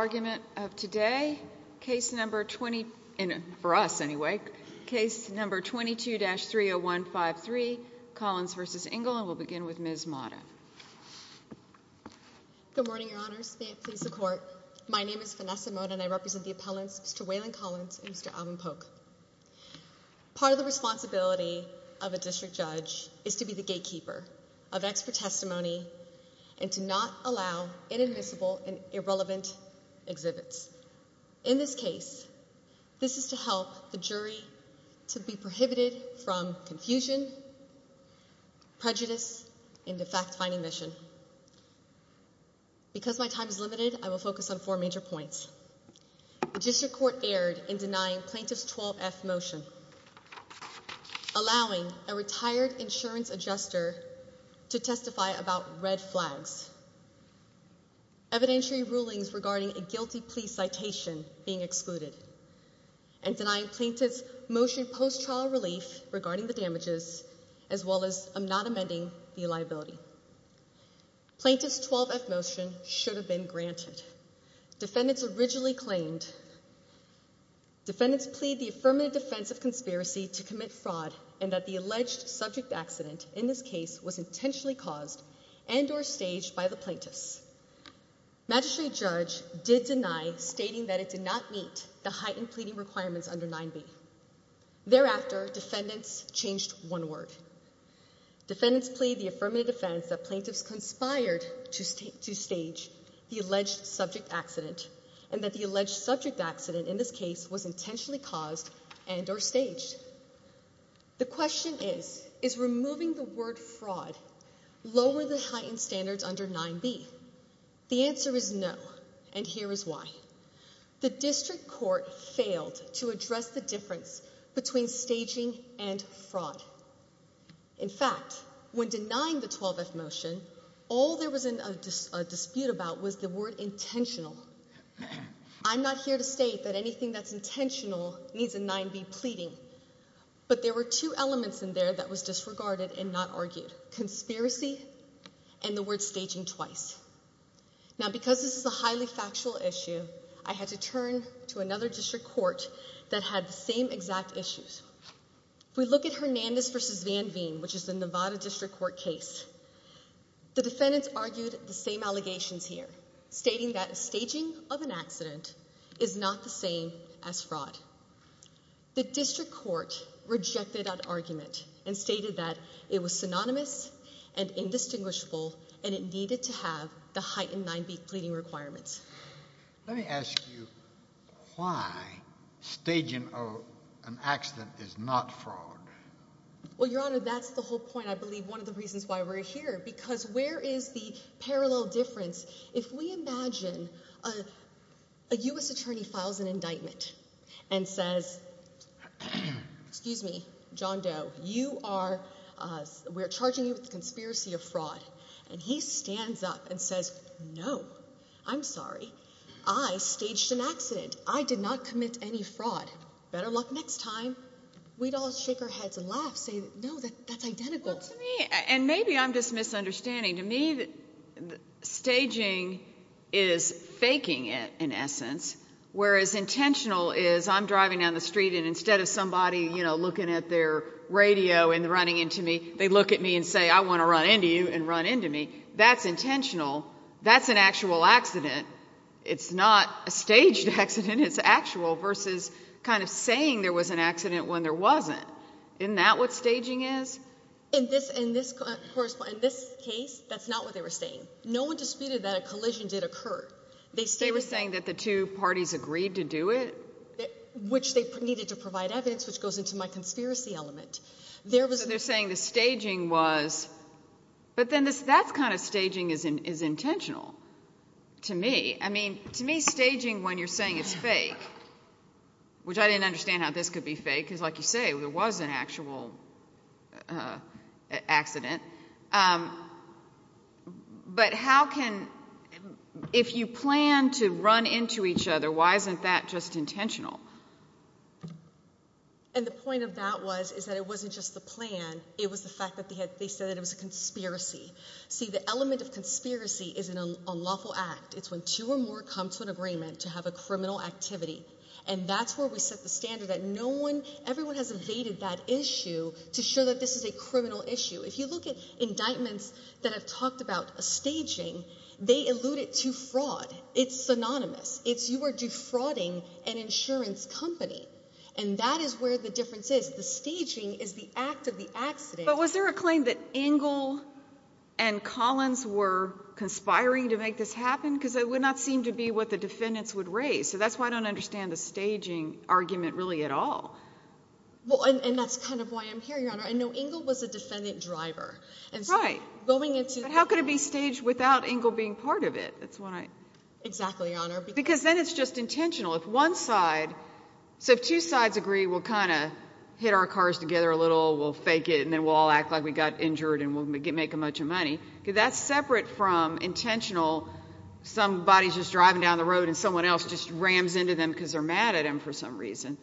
argument of today. Case number 20 for us anyway. Case number 22-30153 Collins versus Ingle and we'll begin with Ms Mata. Good morning, Your Honor's please the court. My name is Vanessa Mode and I represent the appellants to Waylon Collins. Mr Alvin Polk. Part of the responsibility of a district judge is to be the gatekeeper of admissible and irrelevant exhibits. In this case, this is to help the jury to be prohibited from confusion, prejudice into fact finding mission. Because my time is limited, I will focus on four major points. The district court aired in denying plaintiffs 12 F motion, allowing a retired insurance adjuster to testify about red flags. Evidentiary rulings regarding a guilty plea citation being excluded and denying plaintiffs motion post trial relief regarding the damages as well as I'm not amending the liability. Plaintiffs 12 F motion should have been granted. Defendants originally claimed defendants plead the affirmative defense of conspiracy to commit fraud and that the alleged subject accident in this case was intentionally caused and or magistrate judge did deny, stating that it did not meet the heightened pleading requirements under nine B. Thereafter, defendants changed one word. Defendants plead the affirmative defense that plaintiffs conspired to state to stage the alleged subject accident and that the alleged subject accident in this case was intentionally caused and or staged. The question is, is removing the word fraud lower the heightened standards under nine B? The answer is no. And here is why the district court failed to address the difference between staging and fraud. In fact, when denying the 12 F motion, all there was in a dispute about was the word intentional. I'm not here to state that anything that's intentional needs a nine B pleading, but there were two elements in there that was aging twice. Now, because this is a highly factual issue, I had to turn to another district court that had the same exact issues. We look at Hernandez versus Van Veen, which is the Nevada district court case. The defendants argued the same allegations here, stating that staging of an accident is not the same as fraud. The district court rejected that argument and stated that it was synonymous and indistinguishable, and it needed to have the height in nine B pleading requirements. Let me ask you why staging of an accident is not fraud. Well, Your Honor, that's the whole point. I believe one of the reasons why we're here, because where is the parallel difference? If we imagine a U. S. Attorney files an indictment and says, excuse me, John Doe, you are. We're charging you with conspiracy of fraud, and he stands up and says, No, I'm sorry. I staged an accident. I did not commit any fraud. Better luck next time. We don't shake our heads and laugh. Say no, that that's identical to me. And maybe I'm just misunderstanding to me that staging is faking it in essence, whereas intentional is I'm driving down the street and instead of somebody, you know, looking at their radio and running into me, they look at me and say, I want to run into you and run into me. That's intentional. That's an actual accident. It's not a staged accident. It's actual versus kind of saying there was an accident when there wasn't in that what staging is in this in this first in this case, that's not what they were saying. No one disputed that a collision did occur. They say we're saying that the two parties agreed to do it, which they needed to provide evidence, which goes into my conspiracy element. There was they're saying the staging was, but then that's kind of staging is is intentional to me. I mean, to me, staging when you're saying it's fake, which I didn't understand how this could be fake is like you say, there was an actual, uh, accident. Um, but how can if you plan to run into each other? Why isn't that just intentional? And the point of that was is that it wasn't just the plan. It was the fact that they had. They said it was a conspiracy. See, the element of conspiracy is an unlawful act. It's when two or more come to an agreement to have a criminal activity. And that's where we set the standard that no one everyone has evaded that issue to show that this is a criminal issue. If you look at indictments that have talked about a staging, they alluded to fraud. It's synonymous. It's you are defrauding an insurance company, and that is where the difference is. The staging is the act of the accident. But was there a claim that angle and Collins were conspiring to make this happen? Because it would not seem to be what the defendants would raise. So that's why I don't understand the staging argument really at all. Well, and that's kind of why I'm here. Your honor. I know angle was a defendant driver and going into how could it be staged without angle being part of it? That's what I exactly honor because then it's just intentional. If one side so two sides agree, we'll kind of hit our cars together a little. We'll fake it, and then we'll act like we got injured and we'll make a bunch of money. That's separate from intentional. Somebody's just driving down the road and someone else just rams into them because they're mad at him for some reason.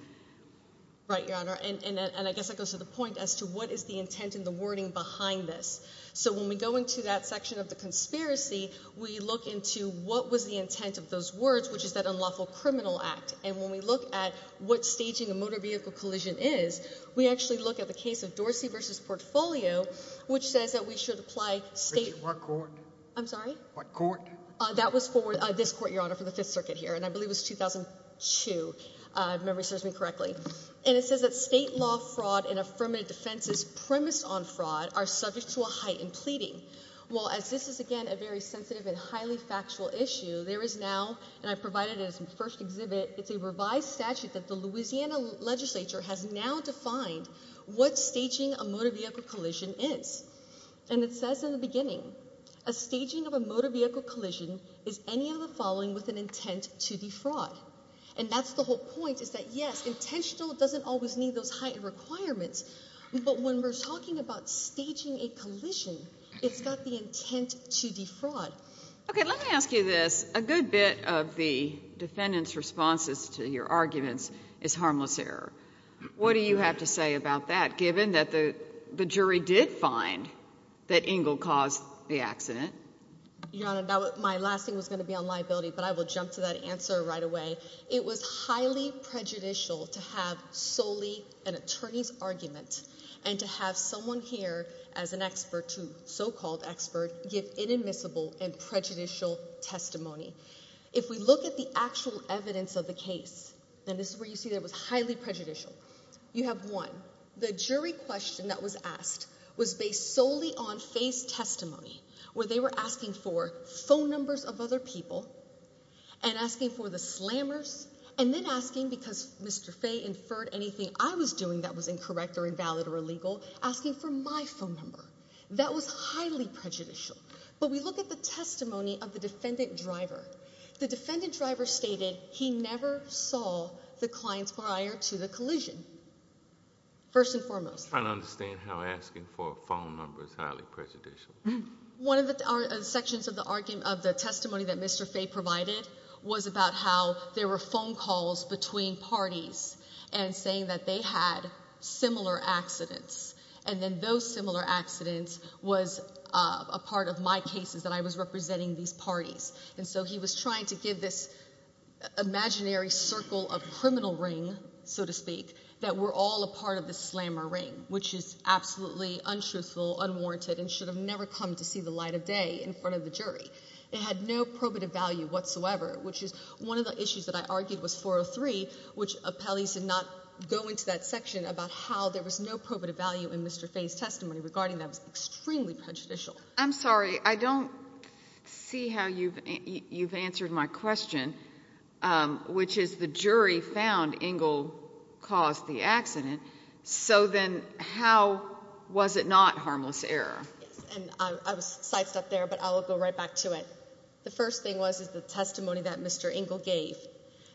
Right, your honor. And and I guess it goes to the point as to what is the intent in the wording behind this. So when we go into that section of the conspiracy, we look into what was the intent of those words, which is that unlawful criminal act. And when we look at what staging a motor vehicle collision is, we actually look at the case of Dorsey versus portfolio, which says that we should apply state court. I'm sorry. What court that was for this court, your honor, for the Fifth Circuit here, and I believe it's 2000 to memory serves me state law, fraud and affirmative defense's premise on fraud are subject to a heightened pleading. Well, as this is again a very sensitive and highly factual issue, there is now and I provided his first exhibit. It's a revised statute that the Louisiana Legislature has now defined what staging a motor vehicle collision is. And it says in the beginning, a staging of a motor vehicle collision is any of the following with an intent to defraud. And that's the whole point is that, yes, intentional doesn't always need those heightened requirements. But when we're talking about staging a collision, it's got the intent to defraud. Okay, let me ask you this. A good bit of the defendant's responses to your arguments is harmless error. What do you have to say about that? Given that the jury did find that Ingle caused the accident, your honor, my last thing was gonna be on liability, but I will jump to that answer right away. It was highly prejudicial to have solely an attorney's argument and to have someone here as an expert to so called expert give inadmissible and prejudicial testimony. If we look at the actual evidence of the case, and this is where you see there was highly prejudicial. You have one. The jury question that was asked was based solely on face testimony where they were asking for phone numbers of other people and asking for the slammers and then asking because Mr Faye inferred anything I was doing that was incorrect or invalid or illegal, asking for my phone number. That was highly prejudicial. But we look at the testimony of the defendant driver. The defendant driver stated he never saw the client's prior to the collision first and foremost. I don't understand how asking for a phone number is prejudicial. One of the sections of the argument of the testimony that Mr Faye provided was about how there were phone calls between parties and saying that they had similar accidents. And then those similar accidents was a part of my cases that I was representing these parties. And so he was trying to give this imaginary circle of criminal ring, so to speak, that we're all a part of the slammer ring, which is absolutely untruthful, unwarranted and should have never come to see the light of day in front of the jury. It had no probative value whatsoever, which is one of the issues that I argued was 403, which appellees did not go into that section about how there was no probative value in Mr Faye's testimony regarding that was extremely prejudicial. I'm sorry, I don't see how you've you've answered my question, which is the jury found Ingle caused the accident. So then how was it not harmless error? And I was psyched up there, but I'll go right back to it. The first thing was, is the testimony that Mr Ingle gave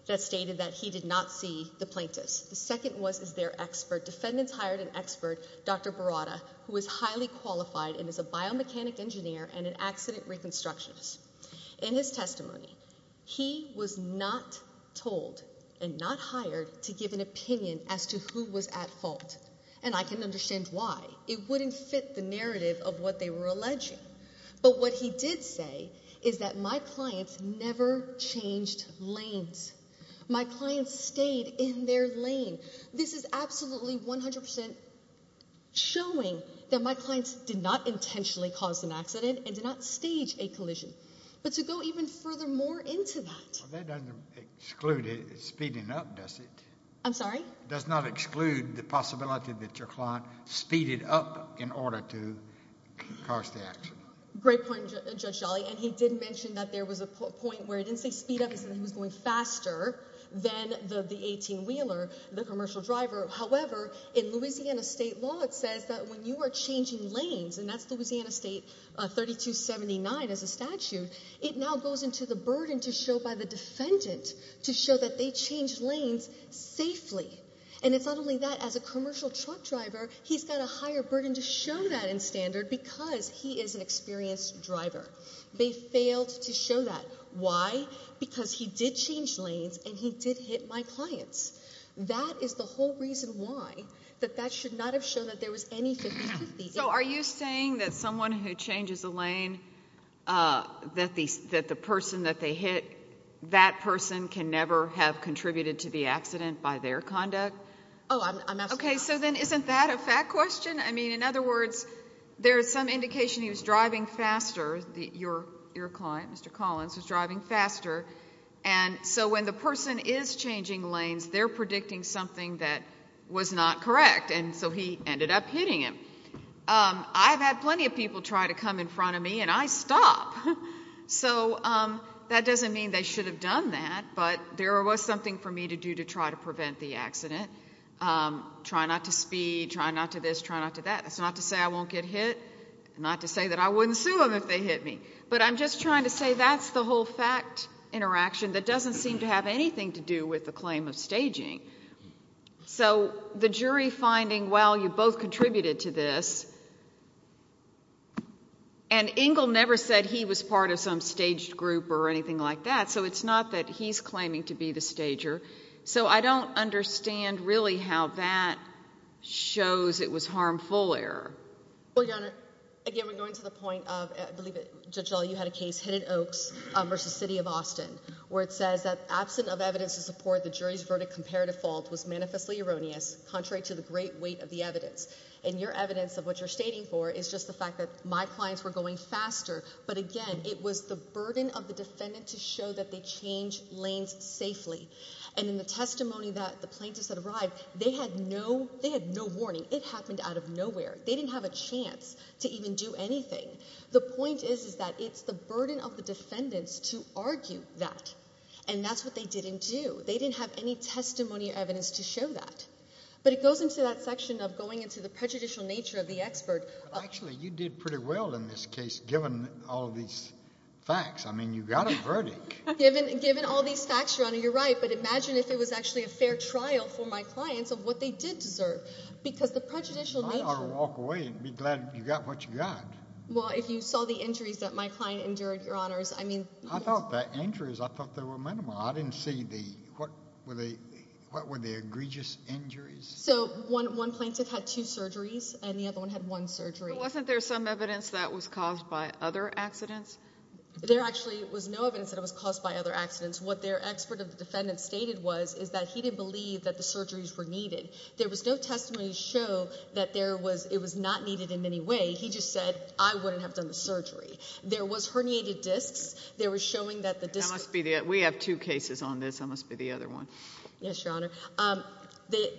that stated that he did not see the plaintiffs. The second was, is their expert defendants hired an expert Dr Barada, who is highly qualified and is a biomechanic engineer and an accident reconstructionist. In his testimony, he was not told and not hired to give an opinion as to who was at fault. And I can understand why it wouldn't fit the narrative of what they were alleging. But what he did say is that my clients never changed lanes. My clients stayed in their lane. This is absolutely 100% showing that my clients did not intentionally caused an accident and did not stage a collision. But to go even further more into that, that doesn't exclude it speeding up, does it? I'm sorry, does not exclude the possibility that your client speeded up in order to cause the accident. Great point, Judge Jolley. And he did mention that there was a point where it didn't say speed up. He said he was going faster than the 18 wheeler, the commercial driver. However, in Louisiana state law, it says that when you are 32.79 as a statute, it now goes into the burden to show by the defendant to show that they changed lanes safely. And it's not only that, as a commercial truck driver, he's got a higher burden to show that in standard because he is an experienced driver. They failed to show that. Why? Because he did change lanes and he did hit my clients. That is the whole reason why, that that should not have shown that there was anything. So are you saying that someone who changes the lane, that the person that they hit, that person can never have contributed to the accident by their conduct? Oh, I'm okay. So then isn't that a fact question? I mean, in other words, there is some indication he was driving faster. Your client, Mr Collins, was driving faster. And so when the person is changing lanes, they're predicting something that was not correct. And so he ended up hitting him. I've had plenty of people try to come in front of me and I stop. So that doesn't mean they should have done that. But there was something for me to do to try to prevent the accident. Try not to speed, try not to this, try not to that. That's not to say I won't get hit, not to say that I wouldn't sue him if they hit me. But I'm just trying to say that's the whole fact interaction that doesn't seem to have anything to do with the claim of staging. So the jury finding, well, you both contributed to this. And Engel never said he was part of some staged group or anything like that. So it's not that he's claiming to be the stager. So I don't understand really how that shows it was harmful error. Well, Your Honor, again, we're going to the point of believe it. Judge, all you had a case. Hidden Oaks versus City of Austin, where it says that absent of evidence to support the jury's verdict, comparative fault was manifestly erroneous, contrary to the great weight of the evidence. And your evidence of what you're stating for is just the fact that my clients were going faster. But again, it was the burden of the defendant to show that they change lanes safely. And in the testimony that the plaintiffs that arrived, they had no, they had no warning. It happened out of nowhere. They didn't have a chance to even do anything. The point is, is that it's the burden of the defendants to argue that. And that's what they didn't do. They didn't have any testimony or evidence to show that. But it goes into that section of going into the prejudicial nature of the expert. Actually, you did pretty well in this case, given all of these facts. I mean, you got a verdict. Given all these facts, Your Honor, you're right. But imagine if it was actually a fair trial for my clients of what they did deserve. Because the prejudicial nature... I ought to walk away and be glad you got what you got. Well, if you saw the injuries that my client endured, Your Honors, I mean... I thought the injuries, I thought they were minimal. I didn't see the... What were the egregious injuries? So one plaintiff had two surgeries, and the other one had one surgery. Wasn't there some evidence that was caused by other accidents? There actually was no evidence that it was caused by other accidents. What their expert of the defendants stated was, is that he didn't believe that the surgeries were needed. There was no testimony to show that there was, it was not needed in any way. He just said, I wouldn't have done the surgery. There was herniated cases on this. I must be the other one. Yes, Your Honor. The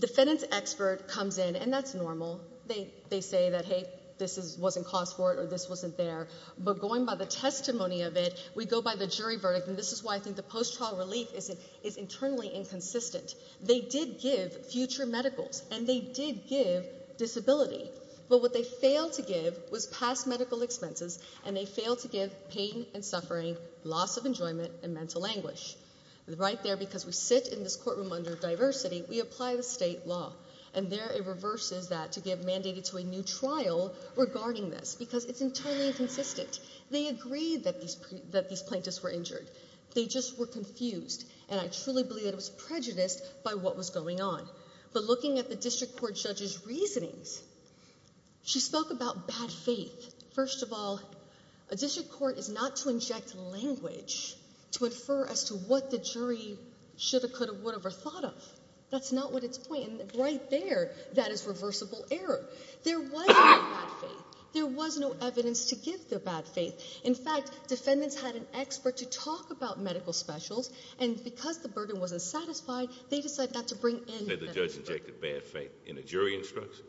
defendant's expert comes in, and that's normal. They say that, hey, this wasn't caused for it, or this wasn't there. But going by the testimony of it, we go by the jury verdict, and this is why I think the post-trial relief is internally inconsistent. They did give future medicals, and they did give disability. But what they failed to give was past medical expenses, and they failed to give pain and suffering, loss of enjoyment, and mental anguish. Right there, because we sit in this courtroom under diversity, we apply the state law, and there it reverses that to give mandated to a new trial regarding this, because it's internally inconsistent. They agreed that these plaintiffs were injured. They just were confused, and I truly believe it was prejudiced by what was going on. But looking at the District Court judge's court is not to inject language to infer as to what the jury should have, could have, would have ever thought of. That's not what it's pointing. Right there, that is reversible error. There was no bad faith. There was no evidence to give the bad faith. In fact, defendants had an expert to talk about medical specials, and because the burden wasn't satisfied, they decided not to bring in the judge injected bad faith in a jury instruction.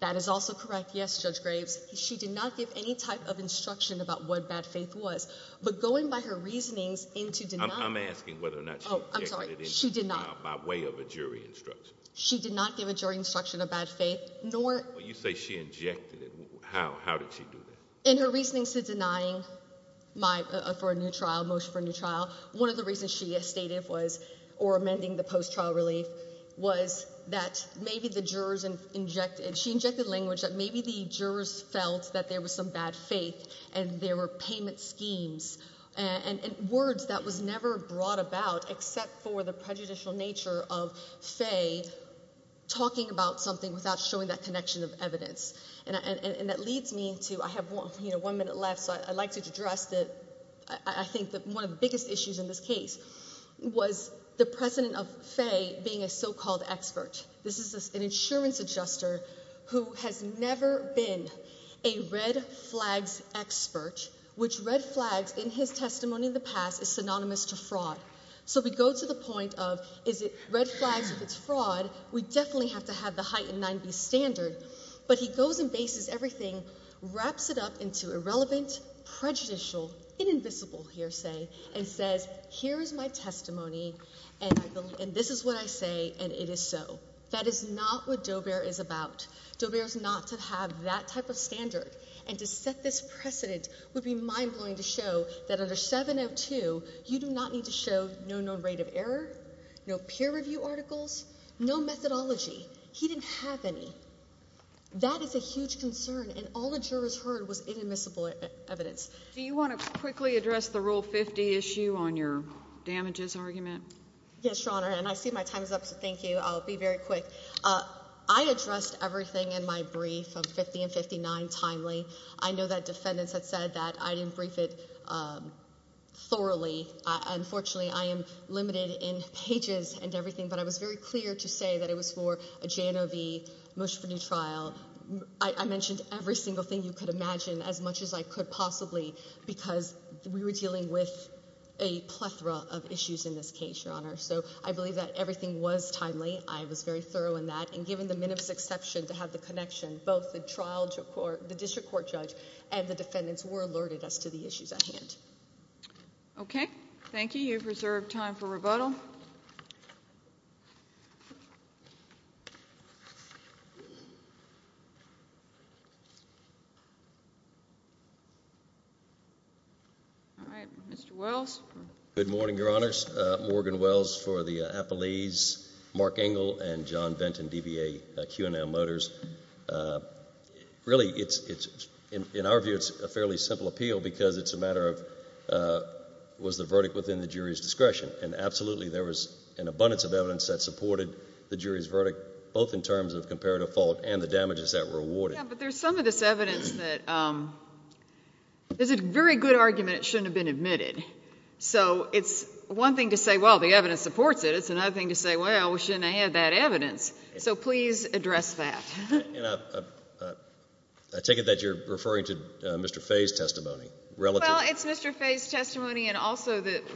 That is also correct. Yes, Judge Graves. She did not give any type of instruction about what bad faith was, but going by her reasonings into deny, I'm asking whether or not she did not by way of a jury instruction. She did not give a jury instruction of bad faith, nor you say she injected it. How? How did she do that? In her reasonings to denying my for a new trial motion for a new trial, one of the reasons she has stated was or amending the post trial relief was that maybe the jurors injected. She injected language that maybe the jurors felt that there was some bad faith and there were payment schemes and words that was never brought about except for the prejudicial nature of Faye talking about something without showing that connection of evidence. And that leads me to I have one minute left, so I'd like to address that. I think that one of the biggest issues in this case was the president of Faye being a so called expert. This is an insurance adjuster who has never been a red flags expert, which red flags in his testimony in the past is synonymous to fraud. So we go to the point of is it red flags? If it's fraud, we definitely have to have the heightened 90 standard. But he goes and bases. Everything wraps it up into irrelevant, prejudicial, invisible hearsay and says, Here is my testimony, and this is what I say, and it is so. That is not what Joe Bear is about. Joe Bears not to have that type of standard and to set this precedent would be mind blowing to show that under 702 you do not need to show no known rate of error, no peer review articles, no methodology. He didn't have any. That is a huge concern, and all the jurors heard was inadmissible evidence. Do you want to quickly address the rule 50 issue on your damages argument? Yes, Your Honor, and I see my time is up. So thank you. I'll be very quick. I addressed everything in my brief of 50 and 59 timely. I know that defendants that said that I didn't brief it, um, thoroughly. Unfortunately, I am limited in pages and everything, but I was very clear to say that it was for a J. No. V. Much for new trial. I mentioned every single thing you could imagine as much as I could possibly because we were dealing with a plethora of issues in this case, Your Honor. So I believe that everything was timely. I was very thorough in that. And given the minutes exception to have the connection, both the trial to court, the district court judge and the defendants were alerted us to the issues at hand. Okay, thank you. You've reserved time for rebuttal. Yeah. All right, Mr Wells. Good morning, Your Honor's Morgan Wells for the Apple Ease, Mark Engel and John Benton D. B. A. Q. N. L. Motors. Uh, really, it's in our view, it's a fairly simple appeal because it's a matter of, uh, was the verdict within the jury's discretion? And absolutely, there was an abundance of evidence that supported the jury's verdict, both in terms of comparative fault and the damages that were awarded. But there's some of this evidence that, um, there's a very good argument. It shouldn't have been admitted. So it's one thing to say, Well, the evidence supports it. It's another thing to say, Well, we shouldn't have that evidence. So please address that. I take it that you're referring to Mr Faye's testimony. Well, it's Mr Faye's testimony.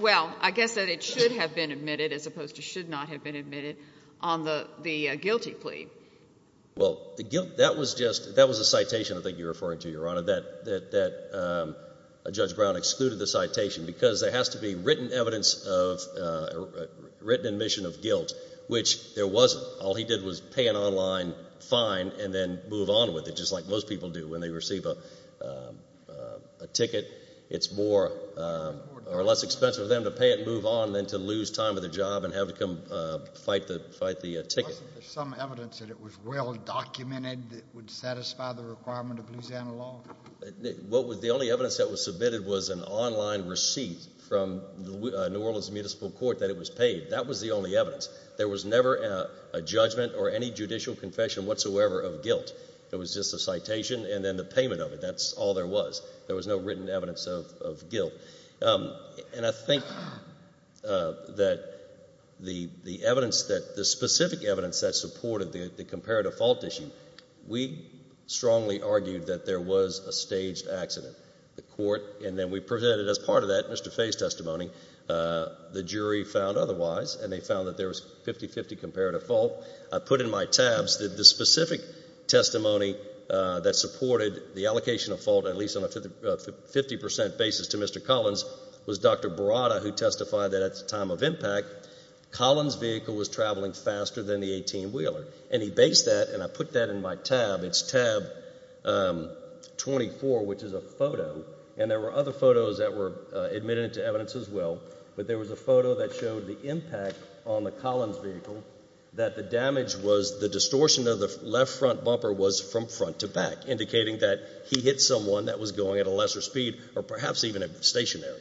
Well, I guess that it should have been admitted as opposed to should not have been admitted on the guilty plea. Well, that was just that was a citation. I think you're referring to your honor that that, um, Judge Brown excluded the citation because there has to be written evidence of written admission of guilt, which there wasn't. All he did was pay an online fine and then move on with it, just like most people do when they receive a, um, a expense for them to pay it, move on than to lose time of the job and have to come fight the fight the ticket. Some evidence that it was well documented would satisfy the requirement of Louisiana law. What was the only evidence that was submitted was an online receipt from New Orleans Municipal Court that it was paid. That was the only evidence there was never a judgment or any judicial confession whatsoever of guilt. It was just a citation and then the payment of it. That's all there was. There was no written evidence of guilt. Um, and I think, uh, that the evidence that the specific evidence that supported the comparative fault issue, we strongly argued that there was a staged accident, the court. And then we presented as part of that Mr Face testimony. Uh, the jury found otherwise, and they found that there was 50 50 comparative fault. I put in my tabs that the specific testimony that supported the allocation of fault, at least on a 50% basis to Mr Collins was Dr Barada, who testified that at the time of impact, Collins vehicle was traveling faster than the 18 wheeler. And he based that and I put that in my tab. It's tab, um, 24, which is a photo. And there were other photos that were admitted to evidence as well. But there was a photo that showed the impact on the Collins vehicle that the damage was the distortion of the left front bumper was from front to back, indicating that he hit someone that was going at a lesser speed or perhaps even stationary.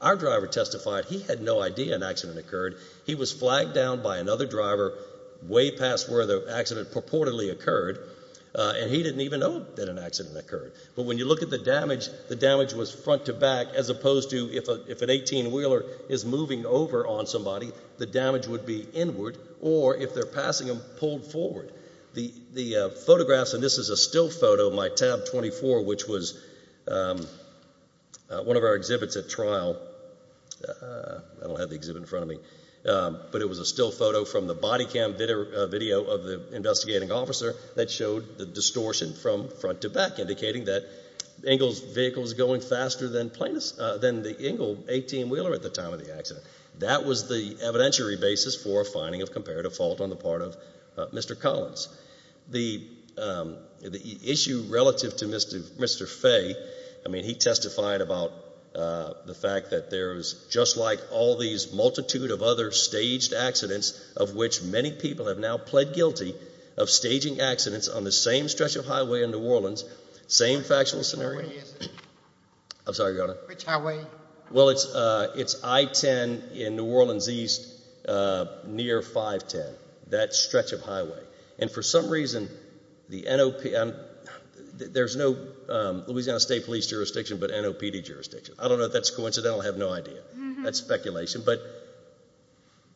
Our driver testified he had no idea an accident occurred. He was flagged down by another driver way past where the accident purportedly occurred. Uh, and he didn't even know that an accident occurred. But when you look at the damage, the damage was front to back, as opposed to if if an 18 wheeler is moving over on somebody, the damage would be inward or if they're passing him pulled forward the photographs. And this is a still photo of my tab 24, which was, um, one of our exhibits at trial. Uh, I don't have the exhibit in front of me, but it was a still photo from the body cam video of the investigating officer that showed the distortion from front to back, indicating that angles vehicles going faster than plaintiffs than the angle 18 wheeler at the time of the accident. That was the evidentiary basis for finding of comparative fault on the part of Mr Collins. The issue relative to Mr Mr Fay. I mean, he testified about the fact that there's just like all these multitude of other staged accidents of which many people have now pled guilty of staging accidents on the same stretch of highway in New Orleans. Same factual scenario. I'm sorry, I gotta which I 10 in New Orleans East, uh, near 5 10 that stretch of highway. And for some reason, the N. O. P. M. There's no Louisiana State Police jurisdiction, but N. O. P. D. Jurisdiction. I don't know if that's coincidental. I have no idea. That's speculation. But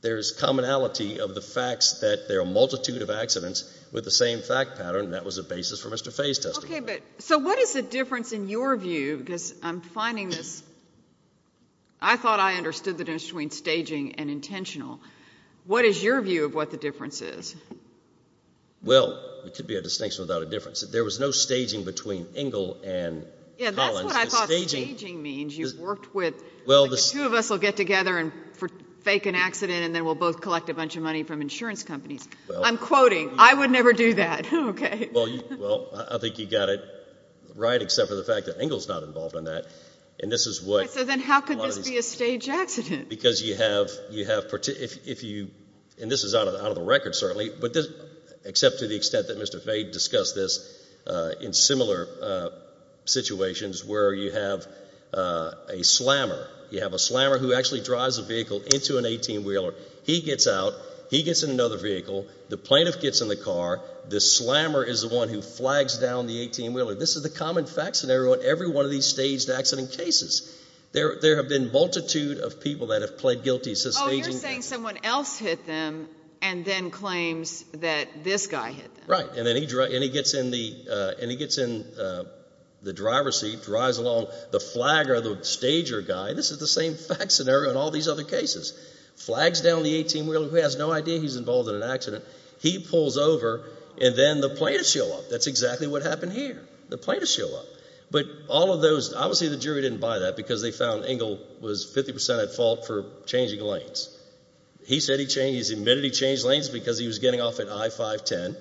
there's commonality of the facts that there are multitude of accidents with the same fact pattern. That was a basis for Mr Fay's testimony. So what is the difference in your view? Because I'm finding this. I thought I understood the difference between staging and intentional. What is your view of what the difference is? Well, it could be a distinction without a difference. There was no staging between angle and staging means you've worked with. Well, the two of us will get together and fake an accident, and then we'll both collect a bunch of money from insurance companies. I'm quoting. I would never do that. Okay, well, well, I think you got it right, except for the fact that angles not involved in that. And this is what? So then how could this be a stage accident? Because you have you have if you and this is out of out of the record, certainly, but this except to the extent that Mr Fay discussed this in similar situations where you have, uh, a slammer, you have a slammer who actually drives a vehicle into an 18 wheeler. He gets out. He gets in another vehicle. The plaintiff gets in the car. The slammer is the one who flags down the 18 wheeler. This is the common fact scenario in every one of these staged accident cases. There have been multitude of people that have pled guilty to staging. You're saying someone else hit them and then claims that this guy hit, right? And then he and he gets in the and he gets in the driver's seat, drives along the flag or the stager guy. This is the same fact scenario in all these other cases flags down the 18 wheeler who has no idea he's involved in an accident. He pulls over and then the plaintiff show up. That's exactly what happened here. The plaintiff show up. But all of those obviously the jury didn't buy that because they found angle was 50% at fault for changing lanes. He said he changed his immunity, changed lanes because he was getting off at I 5 10.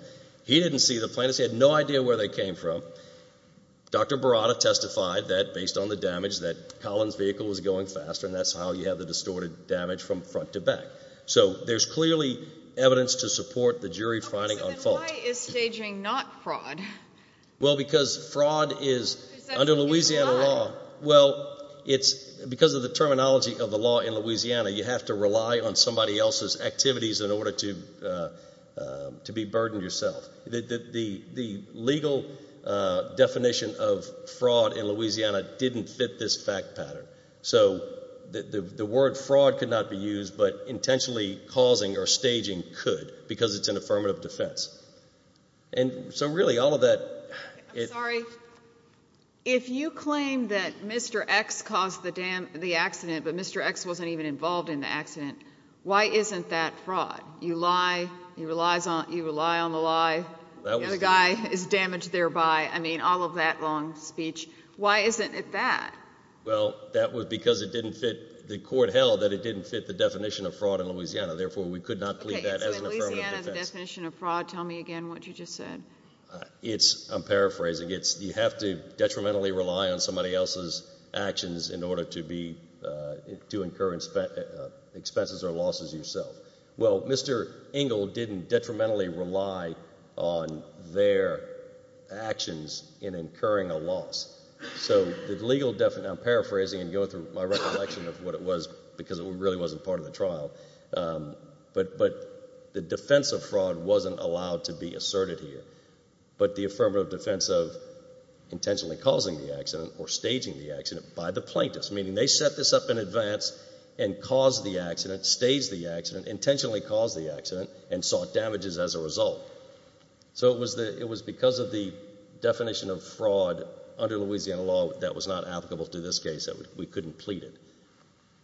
He didn't see the plaintiff had no idea where they came from. Dr Barada testified that based on the damage that Collins vehicle was going faster. And that's how you have the distorted damage from front to back. So there's clearly evidence to support the jury finding on fault is staging not fraud. Well, because fraud is under Louisiana law. Well, it's because of the terminology of the law in Louisiana, you have to rely on somebody else's activities in order to, uh, to be burdened yourself. The legal definition of fraud in Louisiana didn't fit this fact pattern. So the word fraud could not be used, but intentionally causing or staging could because it's an affirmative defense. And so really, all of that. Sorry, if you claim that Mr X caused the dam the accident, but Mr X wasn't even involved in the accident. Why isn't that fraud? You lie. You relies on you rely on the lie. The guy is damaged thereby. I mean, all of that long speech. Why isn't it that? Well, that was because it didn't fit the court held that it didn't fit the definition of fraud in Louisiana. Therefore, we could not plead that as an affirmative definition of fraud. Tell me again what you just said. It's I'm paraphrasing. It's you have to detrimentally rely on somebody else's actions in order to be, uh, to incur expenses or losses yourself. Well, Mr Engel didn't detrimentally rely on their actions in incurring a loss. So the legal definition, I'm paraphrasing and going through my recollection of what it was because it really wasn't part of the trial. Um, but but the defense of fraud wasn't allowed to be asserted here. But the affirmative defense of intentionally causing the accident or staging the accident by the plaintiffs, meaning they set this up in advance and caused the accident stage. The accident intentionally caused the accident and damages as a result. So it was that it was because of the definition of fraud under Louisiana law that was not applicable to this case that we couldn't plead it.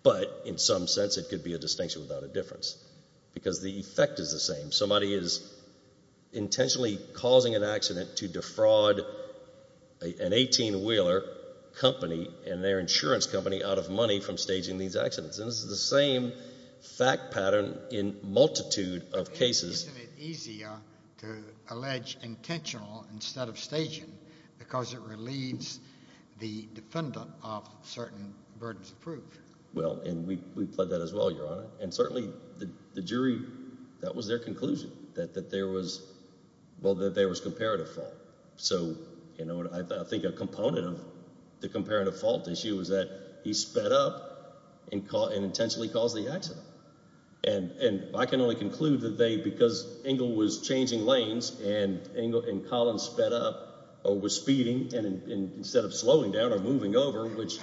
But in some sense, it could be a distinction without a difference because the effect is the same. Somebody is intentionally causing an accident to defraud an 18 Wheeler company and their insurance company out of money from staging these accidents. And this is the same fact pattern in multitude of cases easier to allege intentional instead of staging because it relieves the defendant of certain burdens of proof. Well, and we pled that as well, Your Honor. And certainly the jury, that was their conclusion that there was, well, that there was comparative fault. So, you know, I think a component of the comparative fault issue is that he sped up and intentionally caused the accident. And I can only conclude that they, because Engle was changing lanes and Engle and Collins sped up or was speeding and instead of slowing down or moving over, which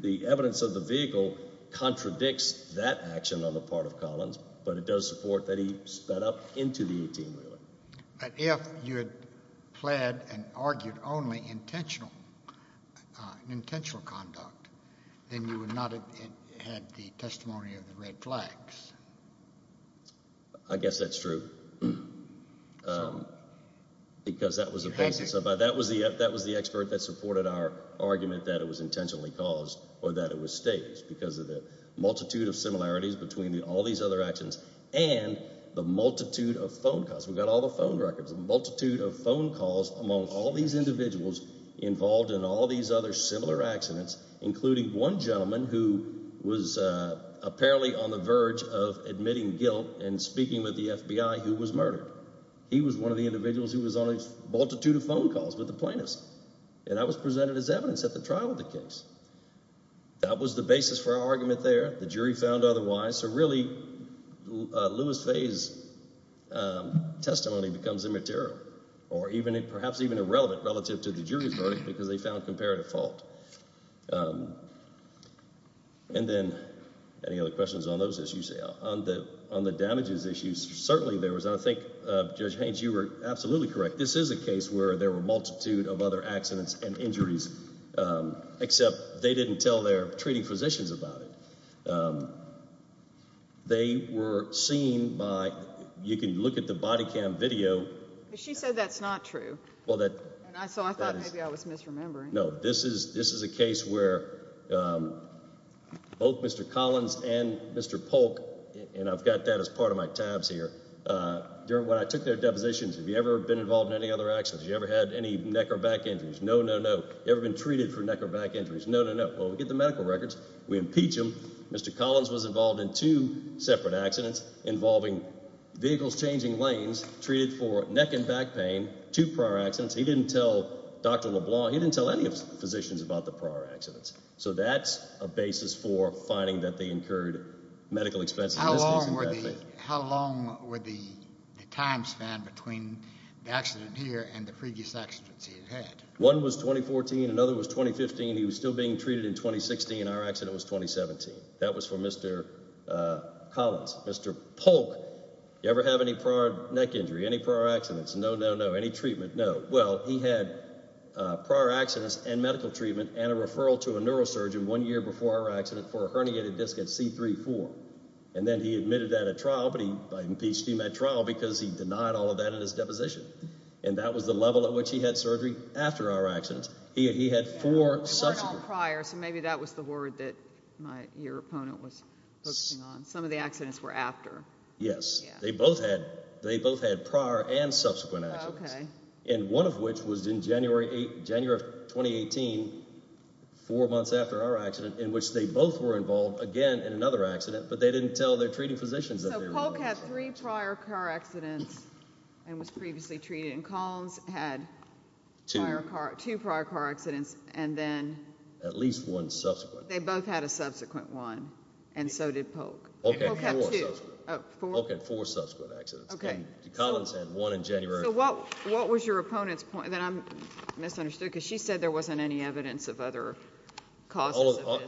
the evidence of the vehicle contradicts that action on the part of Collins, but it does support that he sped up into the 18 Wheeler. But if you had pled and argued only intentional, intentional conduct, then you would not have had the testimony of the red flags. I guess that's true. Um, because that was a basic. So that was the that was the expert that supported our argument that it was intentionally caused or that it was staged because of the multitude of similarities between all these other actions and the multitude of phone calls. We've got all the phone records, multitude of phone calls among all these individuals involved in all these other similar accidents, including one gentleman who was apparently on the verge of admitting guilt and speaking with the FBI, who was murdered. He was one of the individuals who was on a multitude of phone calls with the plaintiffs, and I was presented as evidence at the trial of the case. That was the basis for argument there. The jury found otherwise. So really, Lewis Fay's, um, testimony becomes immaterial or even perhaps even irrelevant relative to the jury's verdict because they found comparative fault. Um, and then any other questions on those issues? On the on the damages issues? Certainly there was. I think, Judge Haynes, you were absolutely correct. This is a case where there were multitude of other accidents and injuries. Um, except they didn't tell their treating physicians about it. Um, they were seen by. You can look at the body cam video. She said that's not true. Well, that I thought maybe I was misremembering. No, this is this is a case where, um, both Mr Collins and Mr Polk, and I've got that as part of my tabs here. Uh, when I took their depositions, have you ever been involved in any other actions? You ever had any neck or back injuries? No, no, no. Ever been treated for neck or back injuries? No, no, no. Well, we get the involved in two separate accidents involving vehicles changing lanes treated for neck and back pain to prior accidents. He didn't tell Dr LeBlanc. He didn't tell any of the physicians about the prior accidents. So that's a basis for finding that they incurred medical expense. How long were they? How long with the time span between the accident here and the previous accidents he had? One was 2014. Another was 2015. He was still being treated in 2016. Our accident was 2017. That was for Mr Collins. Mr Polk. You ever have any prior neck injury? Any prior accidents? No, no, no. Any treatment? No. Well, he had prior accidents and medical treatment and a referral to a neurosurgeon one year before our accident for a herniated disc at C 34. And then he admitted that a trial, but he impeached him at trial because he denied all of that in his deposition. And that was the level at which he had prior. So maybe that was the word that your opponent was focusing on. Some of the accidents were after. Yes, they both had. They both had prior and subsequent. Okay. And one of which was in January, January of 2018, four months after our accident in which they both were involved again in another accident. But they didn't tell their treating physicians that Polk had three prior car accidents and was previously treated in columns, had two prior car accidents and then at least one subsequent. They both had a subsequent one. And so did Polk. Okay. Okay. Four subsequent accidents. Okay. Collins had one in January. What was your opponent's point that I'm misunderstood because she said there wasn't any evidence of other cause.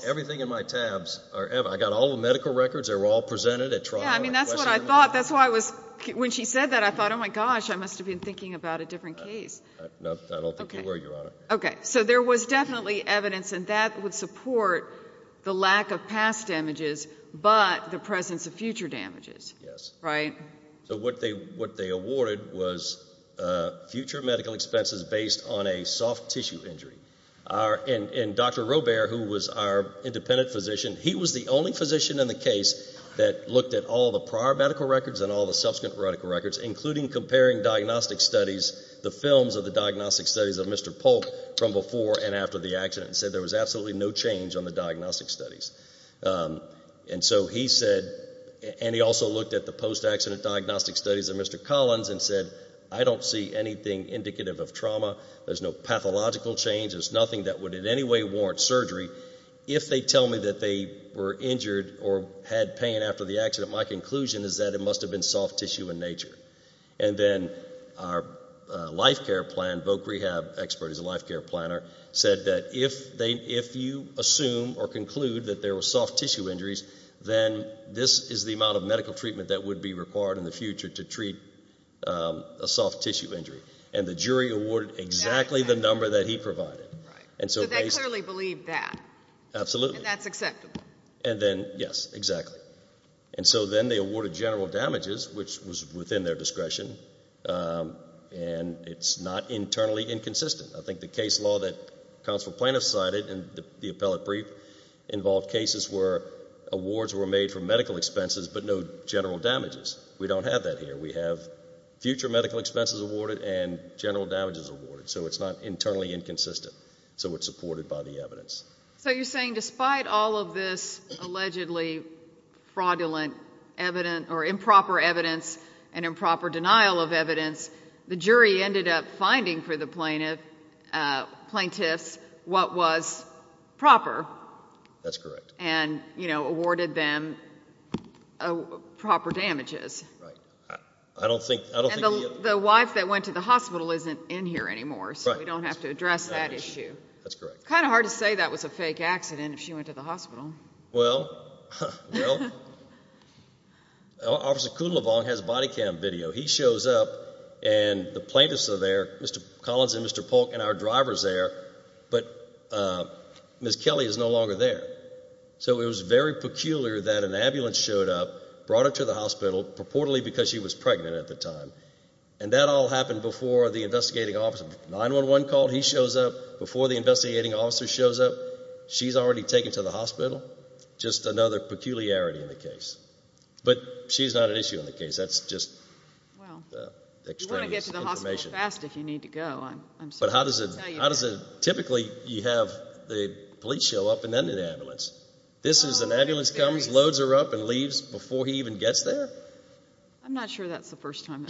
Everything in my tabs are ever. I got all the medical records. They were all presented at trial. I mean, that's what I thought. That's why I was when she said that I thought, Oh, my gosh, I must have been thinking about a different case. No, I there was definitely evidence, and that would support the lack of past damages, but the presence of future damages. Yes, right. So what they what they awarded was future medical expenses based on a soft tissue injury are in Dr Robert, who was our independent physician. He was the only physician in the case that looked at all the prior medical records and all the subsequent radical records, including comparing diagnostic studies, the films of the diagnostic studies of Mr Polk from before and after the accident said there was absolutely no change on the diagnostic studies. And so he said, and he also looked at the post accident diagnostic studies of Mr Collins and said, I don't see anything indicative of trauma. There's no pathological change. There's nothing that would in any way warrant surgery. If they tell me that they were injured or had pain after the accident, my conclusion is that it must have been soft tissue in nature. And then our life care plan, voc rehab expert is a life care planner, said that if they if you assume or conclude that there were soft tissue injuries, then this is the amount of medical treatment that would be required in the future to treat a soft tissue injury. And the jury awarded exactly the number that he provided. And so they clearly believe that. Absolutely. That's acceptable. And then, yes, exactly. And so then they awarded general damages, which was within their discretion. Um, and it's not internally inconsistent. I think the case law that council plaintiffs cited and the appellate brief involved cases where awards were made for medical expenses, but no general damages. We don't have that here. We have future medical expenses awarded and general damages awarded, so it's not internally inconsistent. So it's supported by the fraudulent evidence or improper evidence and improper denial of evidence. The jury ended up finding for the plaintiff, uh, plaintiffs what was proper. That's correct. And, you know, awarded them proper damages. I don't think the wife that went to the hospital isn't in here anymore, so we don't have to address that issue. That's correct. Kind of hard to say that was a fake accident. If she went to the hospital, well, well, Officer Cooley long has body cam video. He shows up and the plaintiffs are there. Mr Collins and Mr Polk and our drivers there. But, uh, Miss Kelly is no longer there. So it was very peculiar that an ambulance showed up, brought her to the hospital purportedly because she was pregnant at the time. And that all happened before the investigating officer 911 called. He shows up before the investigating officer shows up. She's already taken to the hospital. Just another peculiarity in the case. But she's not an issue in the case. That's just, well, you want to get to the hospital fast if you need to go. I'm sorry. But how does it? How does it? Typically you have the police show up and then an ambulance. This is an ambulance comes, loads her up and leaves before he even gets there. I'm not sure that's the first time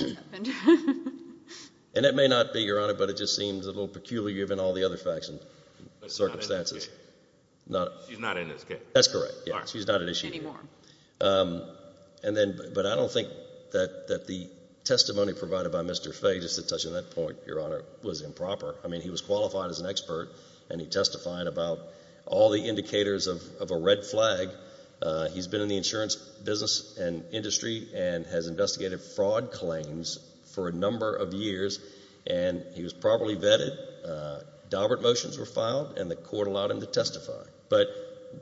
and it may not be given all the other facts and circumstances. No, she's not in this case. That's correct. She's not an issue anymore. Um, and then, but I don't think that that the testimony provided by Mr Fay, just to touch on that point, your honor was improper. I mean, he was qualified as an expert and he testified about all the indicators of of a red flag. Uh, he's been in the insurance business and industry and has investigated fraud claims for a number of years and he was properly vetted. Uh, Dobbert motions were filed and the court allowed him to testify. But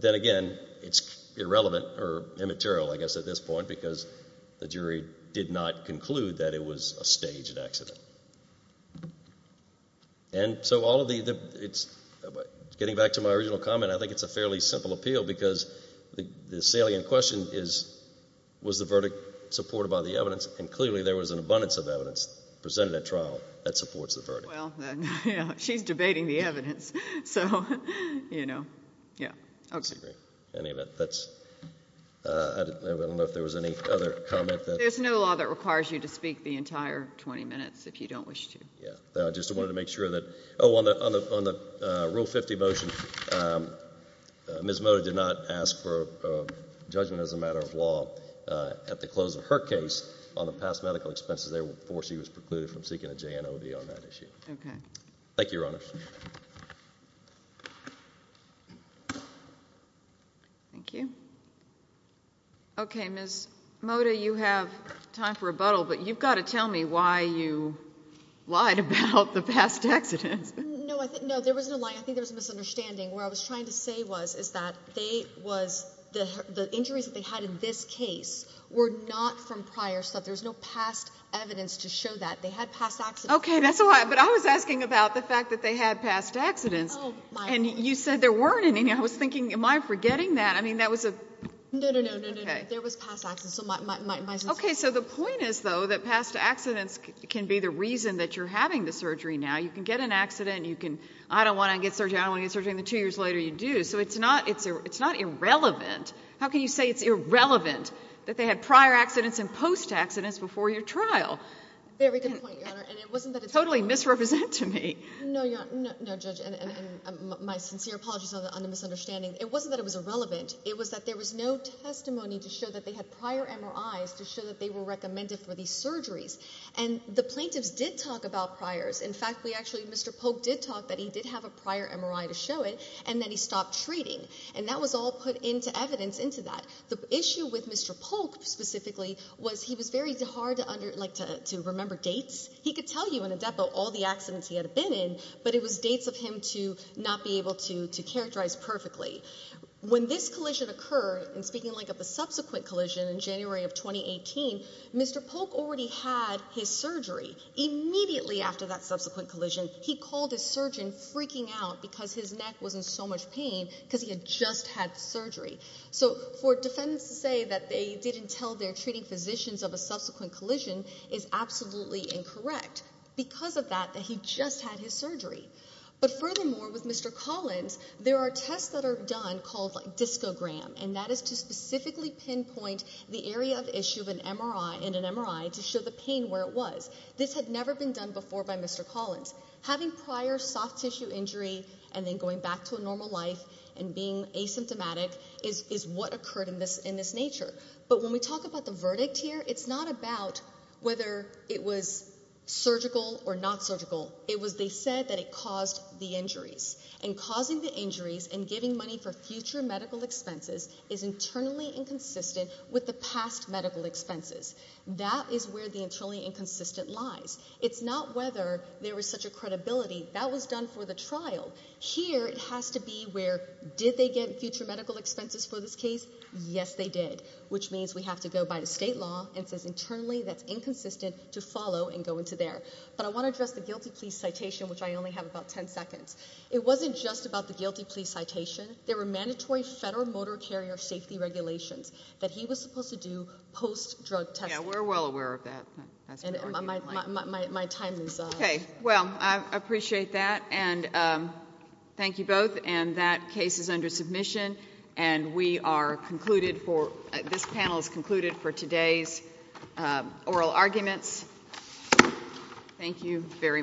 then again, it's irrelevant or immaterial, I guess at this point, because the jury did not conclude that it was a staged accident. And so all of the, it's getting back to my original comment. I think it's a fairly simple appeal because the salient question is, was the verdict presented at trial that supports the verdict? Well, she's debating the evidence. So, you know, yeah. Okay. Any of it. That's uh, I don't know if there was any other comment. There's no law that requires you to speak the entire 20 minutes if you don't wish to. Yeah, I just wanted to make sure that Oh, on the, on the, on the rule 50 motion. Um, Ms Mota did not ask for judgment as a matter of law. Uh, at the close of her case on the past medical expenses, they will force. He was precluded from seeking a J. N. O. V. On that issue. Okay. Thank you, Your Honor. Thank you. Okay. Ms Mota, you have time for rebuttal, but you've got to tell me why you lied about the past accidents. No, I think no, there was no lie. I think there's a misunderstanding where I was trying to say was is that they was the injuries that they had in this case were not from prior stuff. There's no past evidence to show that they had past. Okay, that's a lot. But I was asking about the fact that they had past accidents and you said there weren't any. I was thinking, am I forgetting that? I mean, that was a no, no, no, no, no, no. There was past accidents. Okay. So the point is, though, that past accidents can be the reason that you're having the surgery. Now you can get an accident. You can. I don't want to get surgery. I don't get surgery. The two years later you do. So it's not. It's not irrelevant. How can you say it's irrelevant that they had prior accidents and post accidents before your trial? Very good point, Your Honor. And it wasn't that it's totally misrepresent to me. No, no, no, Judge. And my sincere apologies on the misunderstanding. It wasn't that it was irrelevant. It was that there was no testimony to show that they had prior MRIs to show that they were recommended for these surgeries. And the plaintiffs did talk about priors. In fact, we actually Mr Polk did talk that he did have a prior MRI to show it and then he stopped treating and that was all put into evidence into that. The issue with Mr Polk specifically was he was very hard to remember dates. He could tell you in a depo all the accidents he had been in, but it was dates of him to not be able to characterize perfectly. When this collision occurred, and speaking like of the subsequent collision in January of 2018, Mr Polk already had his surgery. Immediately after that subsequent collision, he called his surgeon freaking out because his neck wasn't so much pain because he had just had surgery. So for defendants to say that they didn't tell their treating physicians of a subsequent collision is absolutely incorrect because of that, that he just had his surgery. But furthermore, with Mr Collins, there are tests that are done called Disco Graham, and that is to specifically pinpoint the area of issue of an MRI in an MRI to show the pain where it was. This had never been done before by Mr Collins. Having prior soft tissue injury and then going back to a normal life and being asymptomatic is what occurred in this in this nature. But when we talk about the verdict here, it's not about whether it was surgical or not surgical. It was they said that it caused the injuries. And causing the injuries and giving money for future medical expenses is internally inconsistent with the past medical expenses. That is where the internally inconsistent lies. It's not whether there was such a credibility that was done for the trial here. It has to be where did they get future medical expenses for this case? Yes, they did. Which means we have to go by the state law and says internally that's inconsistent to follow and go into there. But I want to address the guilty police citation, which I only have about 10 seconds. It wasn't just about the guilty police citation. There were mandatory federal motor carrier safety regulations that he was supposed to do post drug. We're well aware of that. My time is okay. Well, I appreciate that. And um, thank you both. And that case is under submission and we are concluded for this panel is concluded for today's oral arguments. Thank you very much.